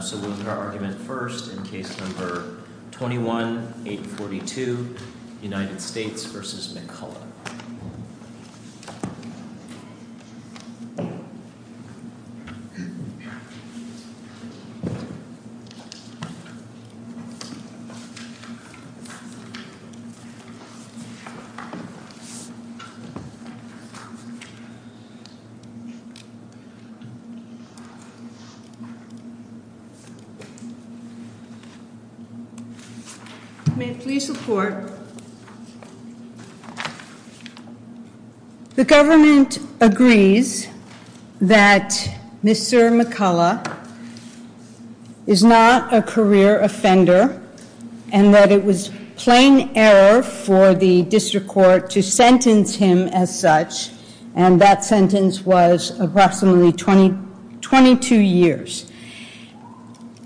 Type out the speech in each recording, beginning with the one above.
So we'll look at our argument first in case number 21-842, United States v. McCullough. May it please the court. The government agrees that Mr. McCullough is not a career offender and that it was plain error for the district court to sentence him as such and that sentence was approximately 22 years.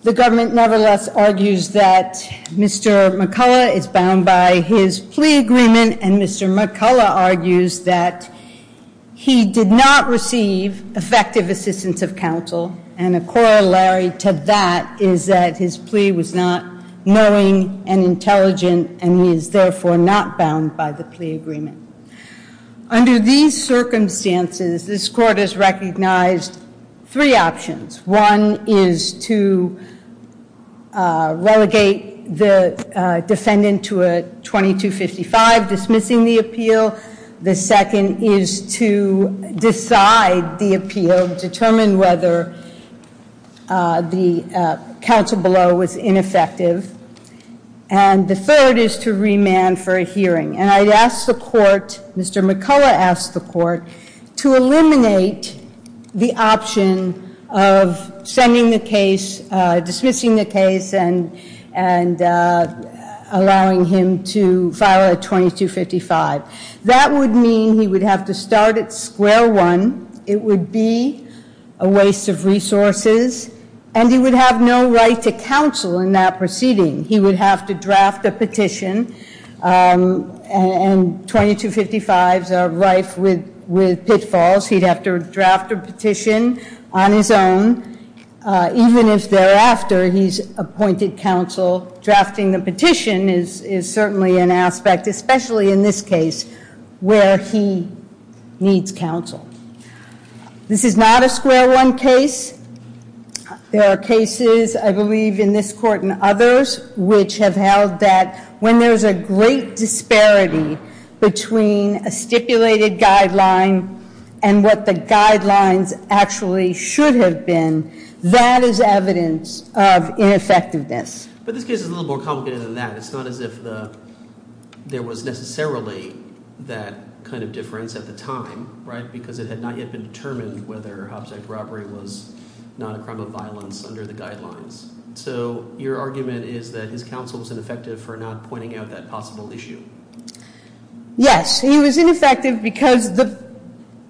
The government nevertheless argues that Mr. McCullough is bound by his plea agreement and Mr. McCullough argues that he did not receive effective assistance of counsel and a corollary to that is that his plea was not knowing and intelligent and he is therefore not bound by the plea agreement. Under these circumstances, this court has recognized three options. One is to relegate the defendant to a 2255 dismissing the appeal. The second is to decide the appeal, determine whether the counsel below was ineffective. And the third is to remand for a hearing. And I'd ask the court, Mr. McCullough asked the court to eliminate the option of sending the case, dismissing the case and allowing him to file a 2255. That would mean he would have to start at square one, it would be a waste of resources and he would have no right to counsel in that proceeding. He would have to draft a petition and 2255s are rife with pitfalls. He'd have to draft a petition on his own even if thereafter he's appointed counsel. Drafting the petition is certainly an aspect, especially in this case, where he needs counsel. This is not a square one case. There are cases I believe in this court and others which have held that when there's a great disparity between a stipulated guideline and what the guidelines actually should have been, that is evidence of ineffectiveness. But this case is a little more complicated than that. It's not as if there was necessarily that kind of difference at the time, right, because it had not yet been determined whether a hobject robbery was not a crime of violence under the guidelines. So your argument is that his counsel was ineffective for not pointing out that possible issue. Yes, he was ineffective because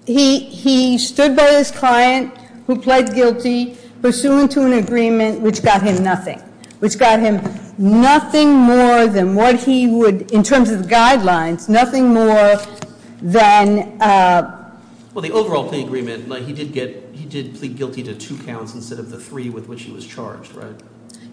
he stood by his client who pled guilty, pursuant to an agreement which got him nothing, which got him nothing more than what he would, in terms of the guidelines, nothing more than... Well, the overall plea agreement, he did plead guilty to two counts instead of the three with which he was charged, right?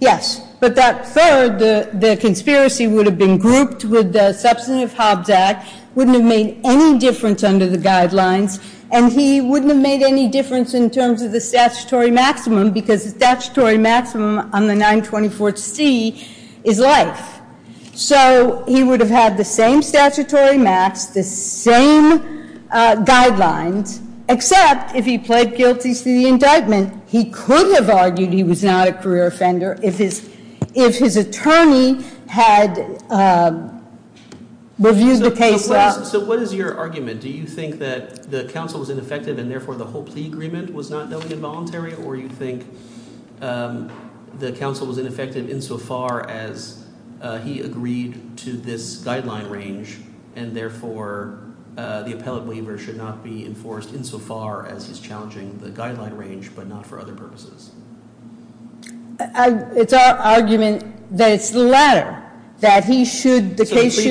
Yes. But that third, the conspiracy would have been grouped with the Substantive Hobbs Act, wouldn't have made any difference under the guidelines, and he wouldn't have made any difference in terms of the statutory maximum because the statutory maximum on the 924C is life. So he would have had the same statutory max, the same guidelines, except if he pled guilty to the indictment, he could have argued he was not a career offender if his attorney had reviewed the case well. So what is your argument? Do you think that the counsel was ineffective and therefore the whole plea agreement was not knowingly involuntary, or you think the counsel was ineffective insofar as he agreed to this guideline range and therefore the appellate waiver should not be enforced insofar as he's challenging the guideline range but not for other purposes? It's our argument that it's the latter, that he should, the case should...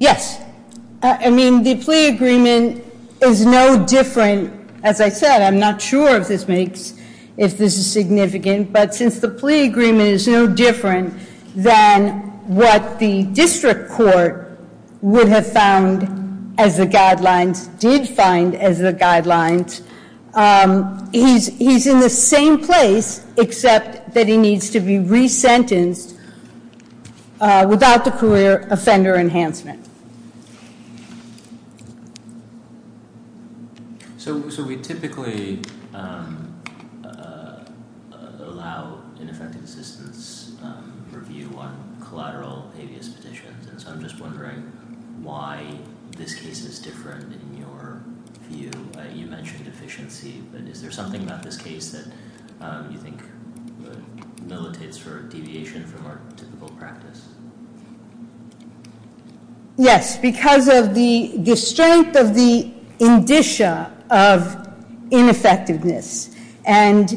Yes. I mean, the plea agreement is no different. As I said, I'm not sure if this makes, if this is significant, but since the plea agreement is no different than what the district court would have found as the guidelines, did find as the guidelines, he's in the same place except that he needs to be resentenced without the career offender enhancement. So we typically allow ineffective assistance review on collateral habeas petitions, and so I'm just wondering why this case is different in your view. You mentioned efficiency, but is there something about this case that you think militates for deviation from our typical practice? Yes, because of the strength of the indicia of ineffectiveness. And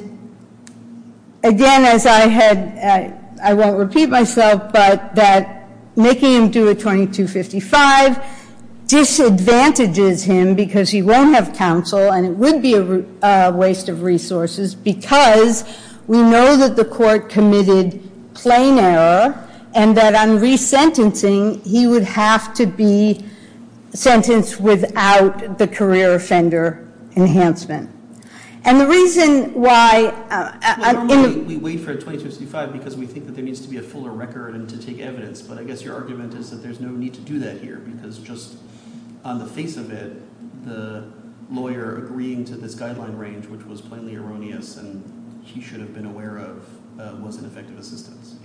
again, as I had, I won't repeat myself, but that making him do a 2255 disadvantages him because he won't have counsel and it would be a waste of resources because we know that the court committed plain error and that on resentencing, he would have to be sentenced without the career offender enhancement. And the reason why... Normally we wait for a 2255 because we think that there needs to be a fuller record and to take evidence, but I guess your argument is that there's no need to do that here because just on the face of it, the lawyer agreeing to this guideline range, which was plainly erroneous and he should have been aware of, was ineffective assistance.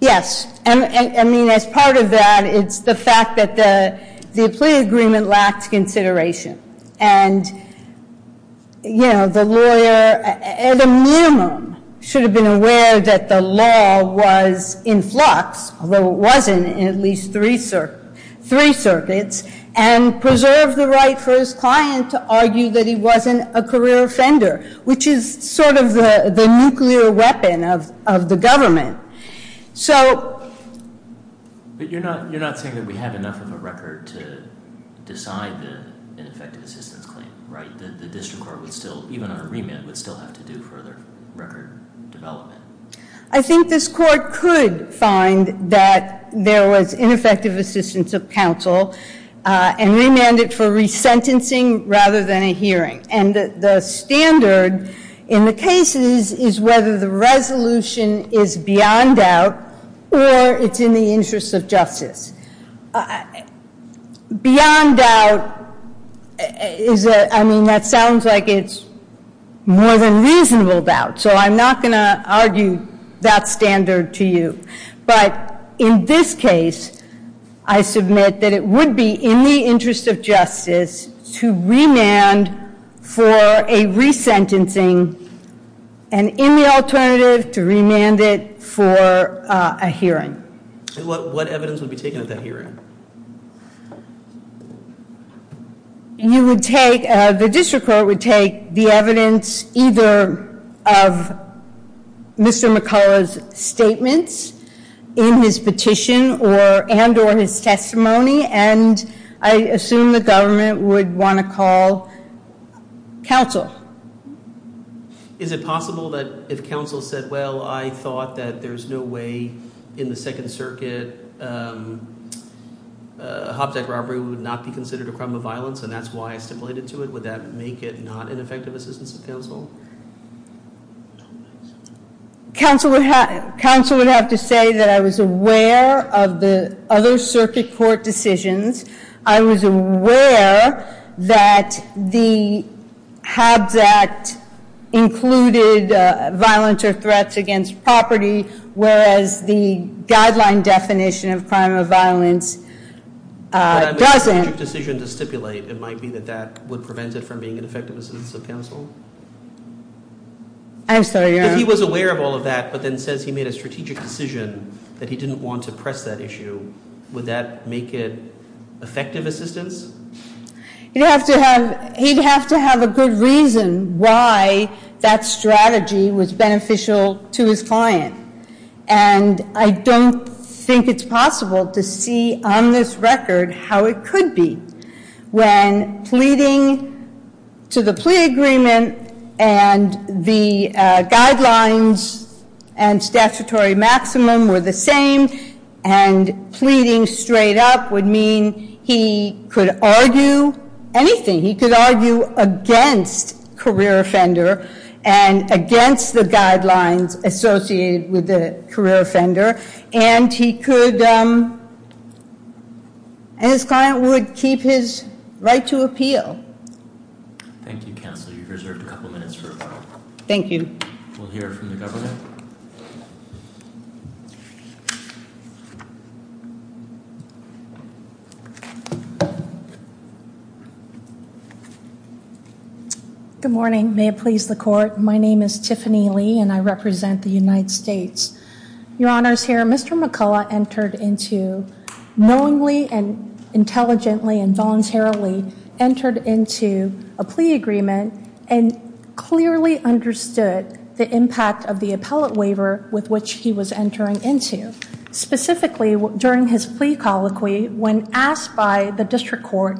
Yes, and I mean, as part of that, it's the fact that the plea agreement lacks consideration. And the lawyer, at a minimum, should have been aware that the law was in flux, although it wasn't in at least three circuits, and preserve the right for his client to argue that he wasn't a career offender, which is sort of the nuclear weapon of the government. But you're not saying that we have enough of a record to decide the ineffective assistance claim, right? The district court would still, even on a remand, would still have to do further record development. I think this court could find that there was ineffective assistance of counsel and remanded for resentencing rather than a hearing. And the standard in the cases is whether the resolution is beyond doubt or it's in the interest of justice. Beyond doubt is a, I mean, that sounds like it's more than reasonable doubt, so I'm not going to argue that standard to you. But in this case, I submit that it would be in the interest of justice to remand for a resentencing, and in the alternative, to remand it for a hearing. And what evidence would be taken at that hearing? You would take, the district court would take the evidence either of Mr. McCullough's statements in his petition and or his testimony, and I assume the government would want to call counsel. Is it possible that if counsel said, well, I thought that there's no way in the Second Circuit that a Hobbs Act robbery would not be considered a crime of violence, and that's why I stipulated to it? Would that make it not an effective assistance of counsel? Counsel would have to say that I was aware of the other Circuit Court decisions. I was aware that the Hobbs Act included violence or threats against property, whereas the guideline definition of crime of violence doesn't. But I made a strategic decision to stipulate. It might be that that would prevent it from being an effective assistance of counsel? I'm sorry. If he was aware of all of that, but then says he made a strategic decision that he didn't want to press that issue, would that make it effective assistance? He'd have to have a good reason why that strategy was beneficial to his client. And I don't think it's possible to see on this record how it could be when pleading to the plea agreement and the guidelines and statutory maximum were the same, and pleading straight up would mean he could argue anything. He could argue against career offender and against the guidelines associated with the career offender, and his client would keep his right to appeal. Thank you, counsel. You've reserved a couple minutes for rebuttal. Thank you. We'll hear from the government. Good morning. May it please the court. My name is Tiffany Lee, and I represent the United States. Your honors, here, Mr. McCullough entered into, knowingly and intelligently and voluntarily, entered into a plea agreement and clearly understood the impact of the appellate waiver with which he was entering into. Specifically, during his plea colloquy, when asked by the district court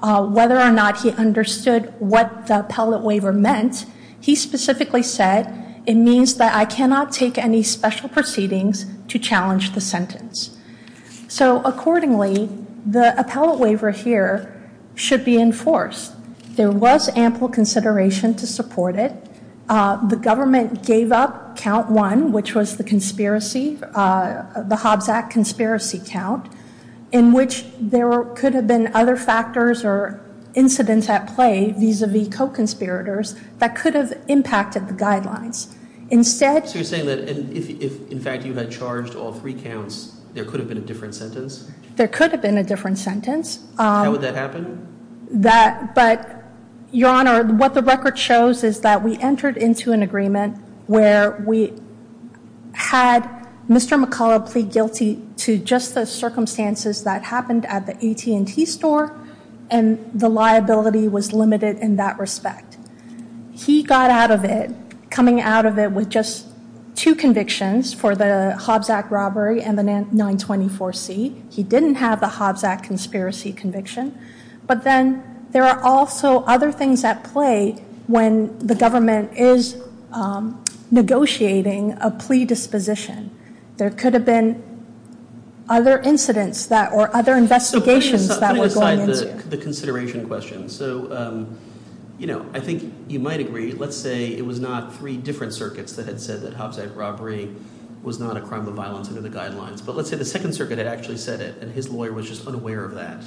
whether or not he understood what the appellate waiver meant, he specifically said, it means that I cannot take any special proceedings to challenge the sentence. So, accordingly, the appellate waiver here should be enforced. There was ample consideration to support it. The government gave up count one, which was the conspiracy, the Hobbs Act conspiracy count, in which there could have been other factors or incidents at play vis-a-vis co-conspirators that could have impacted the guidelines. So you're saying that if, in fact, you had charged all three counts, there could have been a different sentence? There could have been a different sentence. How would that happen? But, your honor, what the record shows is that we entered into an agreement where we had Mr. McCullough plead guilty to just the circumstances that happened at the AT&T store, and the liability was limited in that respect. He got out of it, coming out of it with just two convictions for the Hobbs Act robbery and the 924C. He didn't have the Hobbs Act conspiracy conviction. But then there are also other things at play when the government is negotiating a plea disposition. There could have been other incidents or other investigations that were going into it. So putting aside the consideration question, so, you know, I think you might agree. Let's say it was not three different circuits that had said that Hobbs Act robbery was not a crime of violence under the guidelines. But let's say the Second Circuit had actually said it, and his lawyer was just unaware of that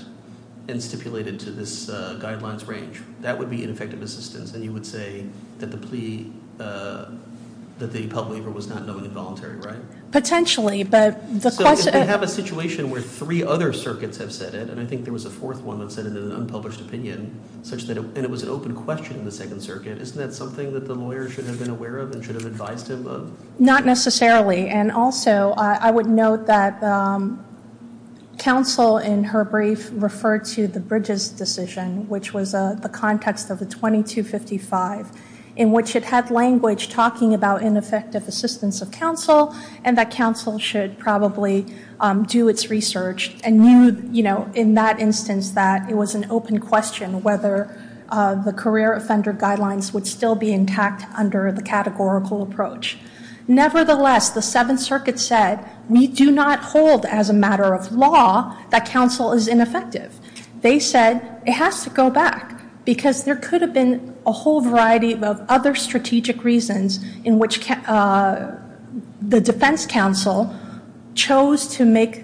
and stipulated to this guidelines range. That would be ineffective assistance, and you would say that the plea, that the public was not knowing involuntary, right? Potentially, but the question- So if we have a situation where three other circuits have said it, and I think there was a fourth one that said it in an unpublished opinion such that it was an open question in the Second Circuit, isn't that something that the lawyer should have been aware of and should have advised him of? Not necessarily. And also, I would note that counsel in her brief referred to the Bridges decision, which was the context of the 2255, in which it had language talking about ineffective assistance of counsel, and that counsel should probably do its research and knew, you know, in that instance that it was an open question whether the career offender guidelines would still be intact under the categorical approach. Nevertheless, the Seventh Circuit said, we do not hold as a matter of law that counsel is ineffective. They said it has to go back, because there could have been a whole variety of other strategic reasons in which the defense counsel chose to make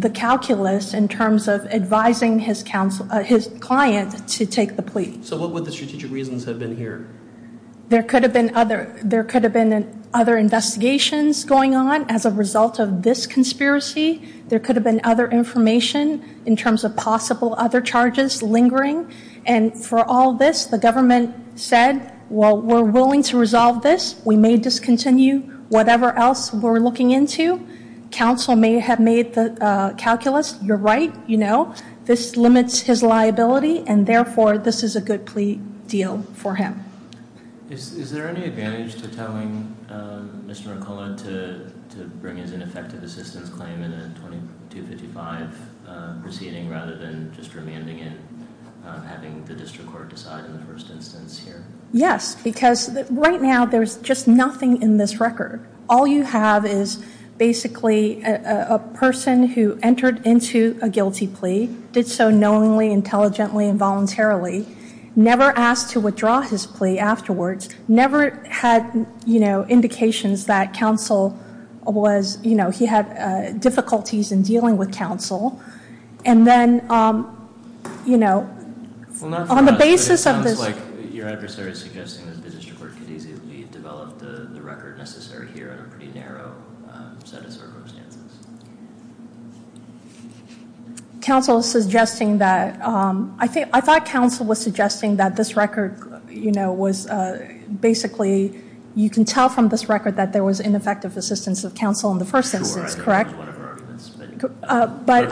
the calculus in terms of advising his client to take the plea. So what would the strategic reasons have been here? There could have been other investigations going on as a result of this conspiracy. There could have been other information in terms of possible other charges lingering. And for all this, the government said, well, we're willing to resolve this. We may discontinue whatever else we're looking into. Counsel may have made the calculus. You're right, you know. This limits his liability, and therefore, this is a good plea deal for him. Is there any advantage to telling Mr. McCullough to bring his ineffective assistance claim in a 2255 proceeding rather than just remanding it, having the district court decide in the first instance here? Yes, because right now, there's just nothing in this record. All you have is basically a person who entered into a guilty plea, did so knowingly, intelligently, and voluntarily, never asked to withdraw his plea afterwards, never had indications that he had difficulties in dealing with counsel. And then, you know, on the basis of this. Well, not for us, but it sounds like your adversary is suggesting that the district court could easily develop the record necessary here on a pretty narrow set of circumstances. Counsel is suggesting that. I thought counsel was suggesting that this record, you know, was basically, you can tell from this record that there was ineffective assistance of counsel in the first instance, correct? But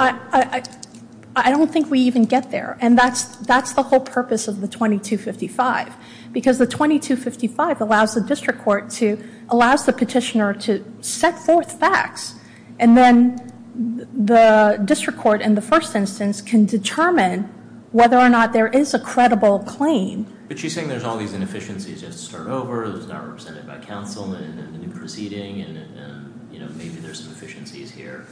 I don't think we even get there, and that's the whole purpose of the 2255. Because the 2255 allows the district court to, allows the petitioner to set forth facts, and then the district court in the first instance can determine whether or not there is a credible claim. But she's saying there's all these inefficiencies just to start over, it was not represented by counsel in the proceeding, and maybe there's some efficiencies here,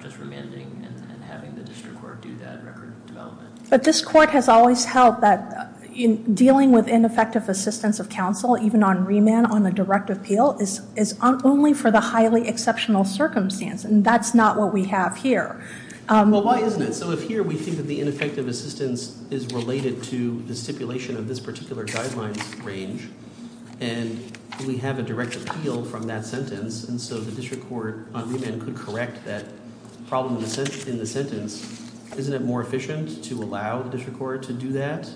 just remanding and having the district court do that record development. But this court has always held that dealing with ineffective assistance of counsel, even on remand on a direct appeal, is only for the highly exceptional circumstance, and that's not what we have here. Well, why isn't it? So if here we think that the ineffective assistance is related to the stipulation of this particular guideline range, and we have a direct appeal from that sentence, and so the district court on remand could correct that problem in the sentence, isn't it more efficient to allow the district court to do that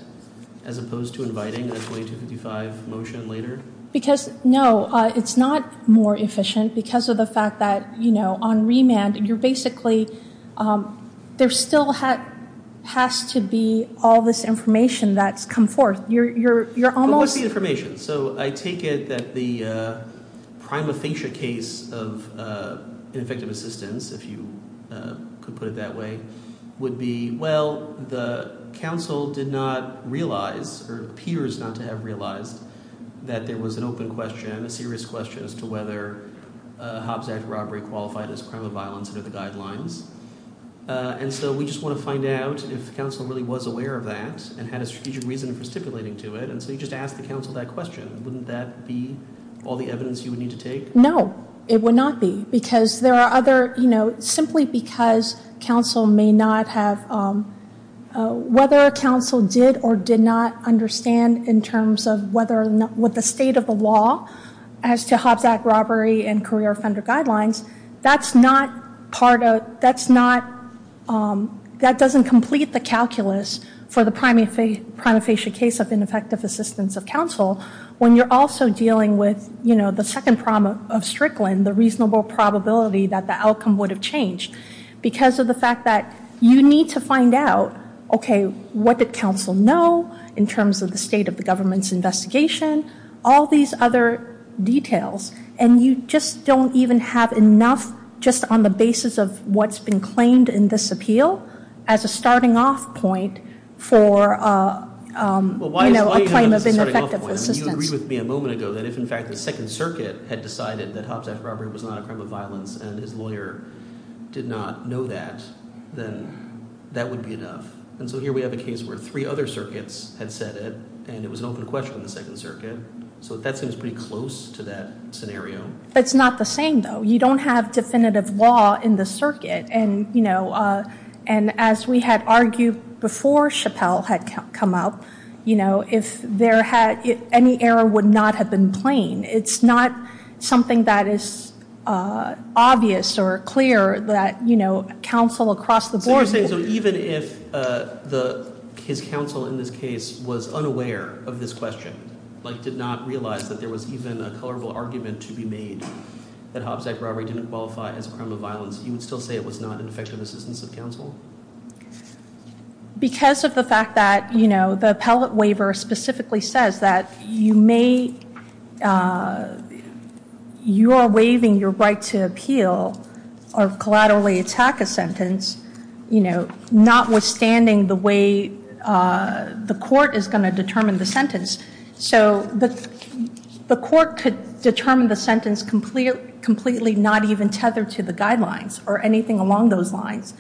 as opposed to inviting a 2255 motion later? Because, no, it's not more efficient because of the fact that, you know, on remand, you're basically, there still has to be all this information that's come forth. But what's the information? So I take it that the prima facie case of ineffective assistance, if you could put it that way, would be, well, the counsel did not realize or appears not to have realized that there was an open question, a serious question as to whether Hobbs Act robbery qualified as a crime of violence under the guidelines. And so we just want to find out if the counsel really was aware of that and had a strategic reason for stipulating to it, and so you just asked the counsel that question. Wouldn't that be all the evidence you would need to take? No, it would not be because there are other, you know, simply because counsel may not have, whether counsel did or did not understand in terms of whether or not, the state of the law as to Hobbs Act robbery and career offender guidelines, that's not part of, that's not, that doesn't complete the calculus for the prima facie case of ineffective assistance of counsel when you're also dealing with, you know, the second problem of Strickland, the reasonable probability that the outcome would have changed because of the fact that you need to find out, okay, what did counsel know in terms of the state of the government's investigation, all these other details, and you just don't even have enough just on the basis of what's been claimed in this appeal as a starting off point for, you know, a claim of ineffective assistance. You agreed with me a moment ago that if in fact the Second Circuit had decided that Hobbs Act robbery was not a crime of violence and his lawyer did not know that, then that would be enough. And so here we have a case where three other circuits had said it, and it was an open question on the Second Circuit. So that seems pretty close to that scenario. It's not the same, though. You don't have definitive law in the circuit, and, you know, and as we had argued before Chappelle had come up, you know, if there had, any error would not have been plain. It's not something that is obvious or clear that, you know, counsel across the board. So even if his counsel in this case was unaware of this question, like did not realize that there was even a colorable argument to be made that Hobbs Act robbery didn't qualify as a crime of violence, you would still say it was not an effective assistance of counsel? Because of the fact that, you know, the appellate waiver specifically says that you may, you are waiving your right to appeal or collaterally attack a sentence, you know, notwithstanding the way the court is going to determine the sentence. So the court could determine the sentence completely not even tethered to the guidelines or anything along those lines.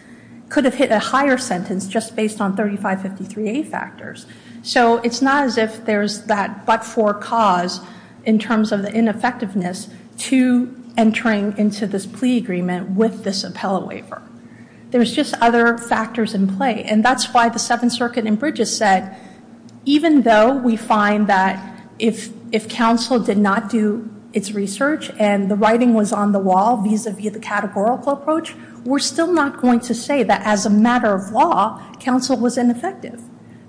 Could have hit a higher sentence just based on 3553A factors. So it's not as if there's that but-for cause in terms of the ineffectiveness to entering into this plea agreement with this appellate waiver. There's just other factors in play, and that's why the Seventh Circuit in Bridges said, even though we find that if counsel did not do its research and the writing was on the wall, vis-a-vis the categorical approach, we're still not going to say that as a matter of law, counsel was ineffective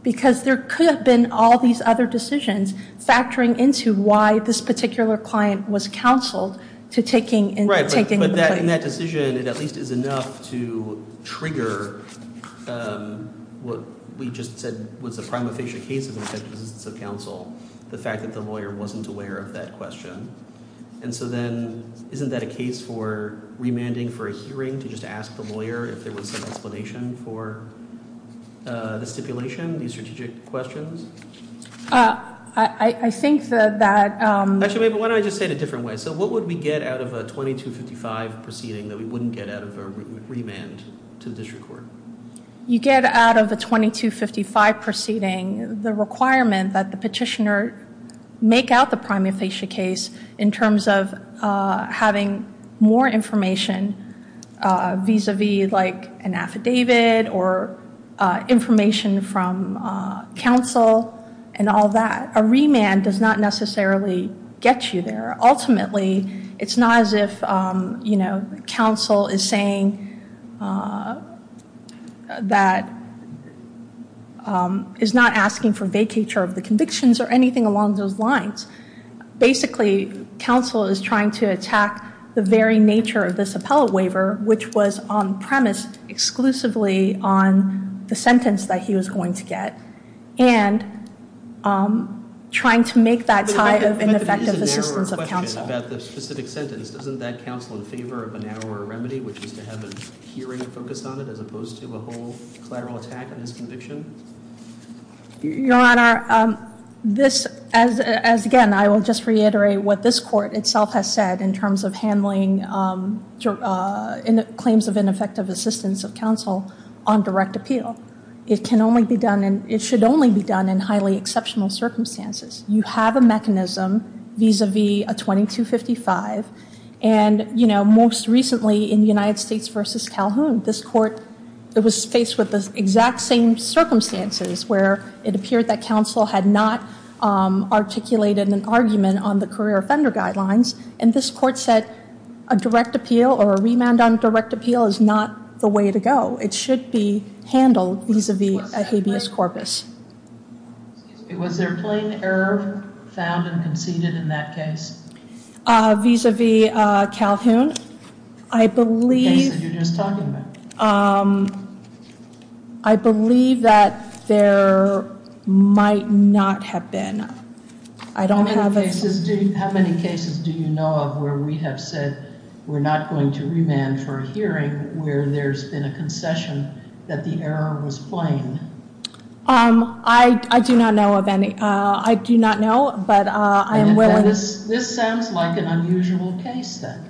because there could have been all these other decisions factoring into why this particular client was counseled to taking and taking the plea. But in that decision, it at least is enough to trigger what we just said was a prima facie case of an effective assistance of counsel, the fact that the lawyer wasn't aware of that question. And so then isn't that a case for remanding for a hearing to just ask the lawyer if there was some explanation for the stipulation, the strategic questions? I think that- Actually, why don't I just say it a different way? So what would we get out of a 2255 proceeding that we wouldn't get out of a remand to the district court? You get out of a 2255 proceeding the requirement that the petitioner make out the prima facie case in terms of having more information vis-a-vis like an affidavit or information from counsel and all that. A remand does not necessarily get you there. Ultimately, it's not as if counsel is saying that is not asking for vacature of the convictions or anything along those lines. Basically, counsel is trying to attack the very nature of this appellate waiver, which was on premise exclusively on the sentence that he was going to get, and trying to make that tie of ineffective assistance of counsel. But there is a narrower question about the specific sentence. Doesn't that counsel in favor of a narrower remedy, which is to have a hearing focused on it, as opposed to a whole collateral attack on his conviction? Your Honor, this- Again, I will just reiterate what this court itself has said in terms of handling claims of ineffective assistance of counsel on direct appeal. It can only be done and it should only be done in highly exceptional circumstances. You have a mechanism vis-a-vis a 2255, and most recently in the United States v. Calhoun, this court was faced with the exact same circumstances, where it appeared that counsel had not articulated an argument on the career offender guidelines, and this court said a direct appeal or a remand on direct appeal is not the way to go. It should be handled vis-a-vis a habeas corpus. Was there plain error found and conceded in that case? Vis-a-vis Calhoun, I believe- The case that you're just talking about. I believe that there might not have been. How many cases do you know of where we have said we're not going to remand for a hearing where there's been a concession that the error was plain? I do not know of any. I do not know, but I am willing- This sounds like an unusual case, then.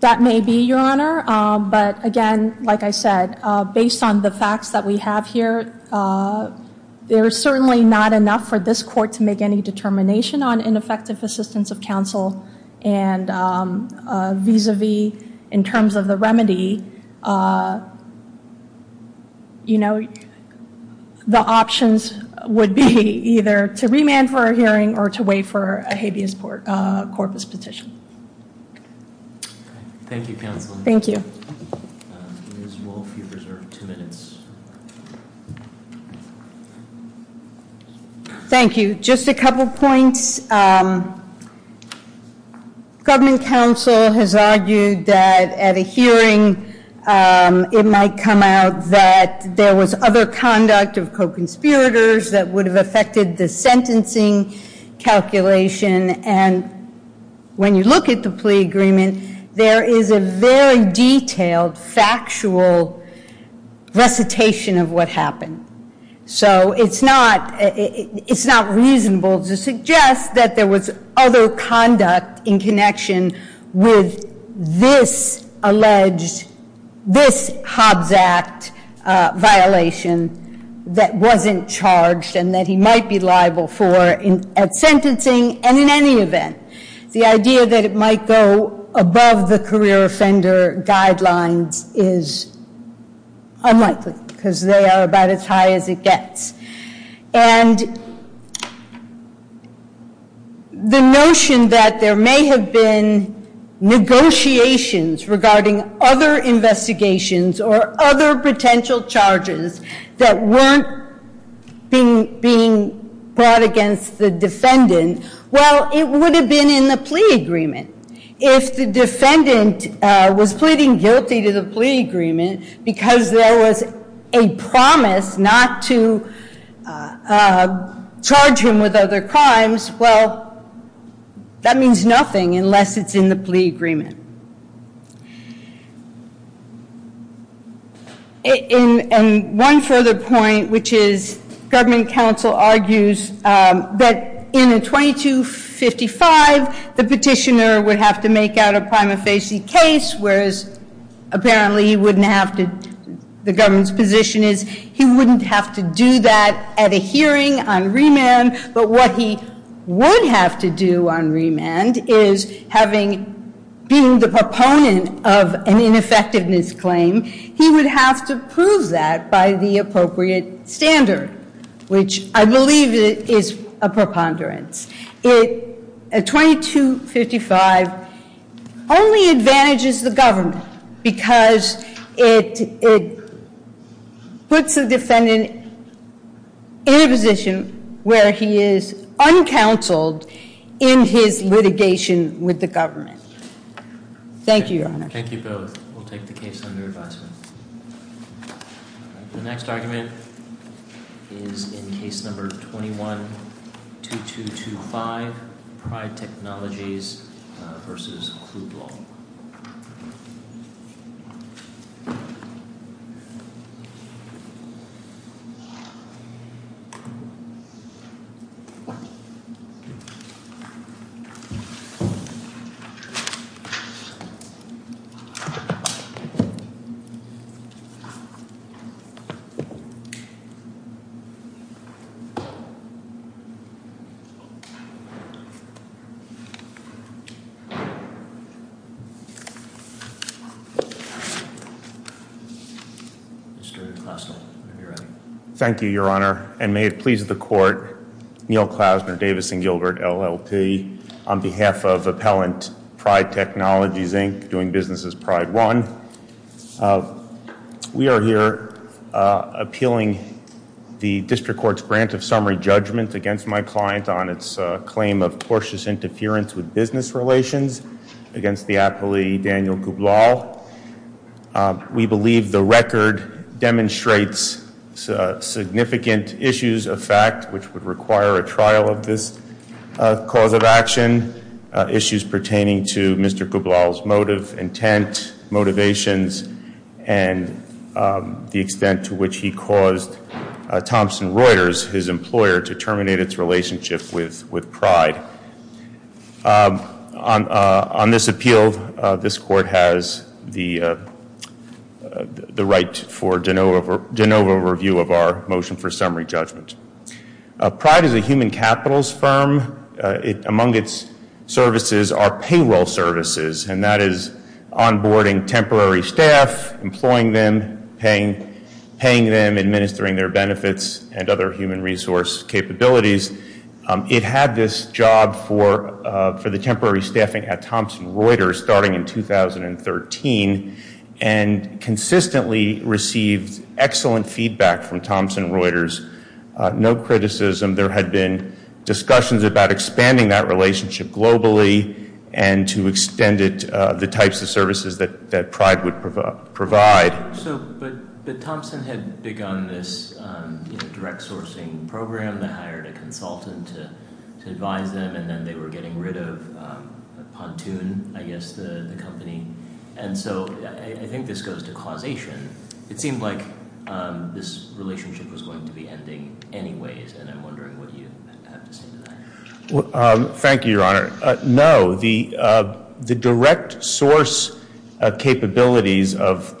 That may be, Your Honor, but again, like I said, based on the facts that we have here, there is certainly not enough for this court to make any determination on ineffective assistance of counsel and vis-a-vis, in terms of the remedy, the options would be either to remand for a hearing or to wait for a habeas corpus petition. Thank you, counsel. Thank you. Ms. Wolfe, you've reserved two minutes. Thank you. Just a couple points. Government counsel has argued that at a hearing it might come out that there was other conduct of co-conspirators that would have affected the sentencing calculation, and when you look at the plea agreement, there is a very detailed, factual recitation of what happened. So it's not reasonable to suggest that there was other conduct in connection with this alleged, this Hobbs Act violation that wasn't charged and that he might be liable for at sentencing and in any event. The idea that it might go above the career offender guidelines is unlikely, because they are about as high as it gets. And the notion that there may have been negotiations regarding other investigations or other potential charges that weren't being brought against the defendant, well, it would have been in the plea agreement. If the defendant was pleading guilty to the plea agreement because there was a promise not to charge him with other crimes, well, that means nothing unless it's in the plea agreement. And one further point, which is government counsel argues that in a 2255, the petitioner would have to make out a prima facie case, whereas apparently he wouldn't have to, the government's position is he wouldn't have to do that at a hearing on remand, but what he would have to do on remand is having, being the proponent of an ineffectiveness claim, he would have to prove that by the appropriate standard, which I believe is a preponderance. A 2255 only advantages the government, because it puts the defendant in a position where he is uncounseled in his litigation with the government. Thank you, Your Honor. Thank you both. We'll take the case under advisement. The next argument is in case number 21-2225, Pryde Technologies versus Kluge Law. Mr. Klausner, if you're ready. Thank you, Your Honor. And may it please the court, Neal Klausner, Davis & Gilbert, LLP, on behalf of Appellant Pryde Technologies, Inc., doing business as Pryde One. We are here appealing the district court's grant of summary judgment against my client on its claim of tortuous interference with business relations against the appellee, Daniel Kublau. We believe the record demonstrates significant issues of fact, which would require a trial of this cause of action, issues pertaining to Mr. Kublau's motive, intent, motivations, and the extent to which he caused Thompson Reuters, his employer, to terminate its relationship with Pryde. On this appeal, this court has the right for de novo review of our motion for summary judgment. Pryde is a human capitals firm. Among its services are payroll services, and that is onboarding temporary staff, employing them, paying them, administering their benefits, and other human resource capabilities. It had this job for the temporary staffing at Thompson Reuters starting in 2013 and consistently received excellent feedback from Thompson Reuters, no criticism. There had been discussions about expanding that relationship globally and to extend it the types of services that Pryde would provide. But Thompson had begun this direct sourcing program that hired a consultant to advise them, and then they were getting rid of Pontoon, I guess, the company. And so I think this goes to causation. It seemed like this relationship was going to be ending anyways, and I'm wondering what you have to say to that. Thank you, Your Honor. No.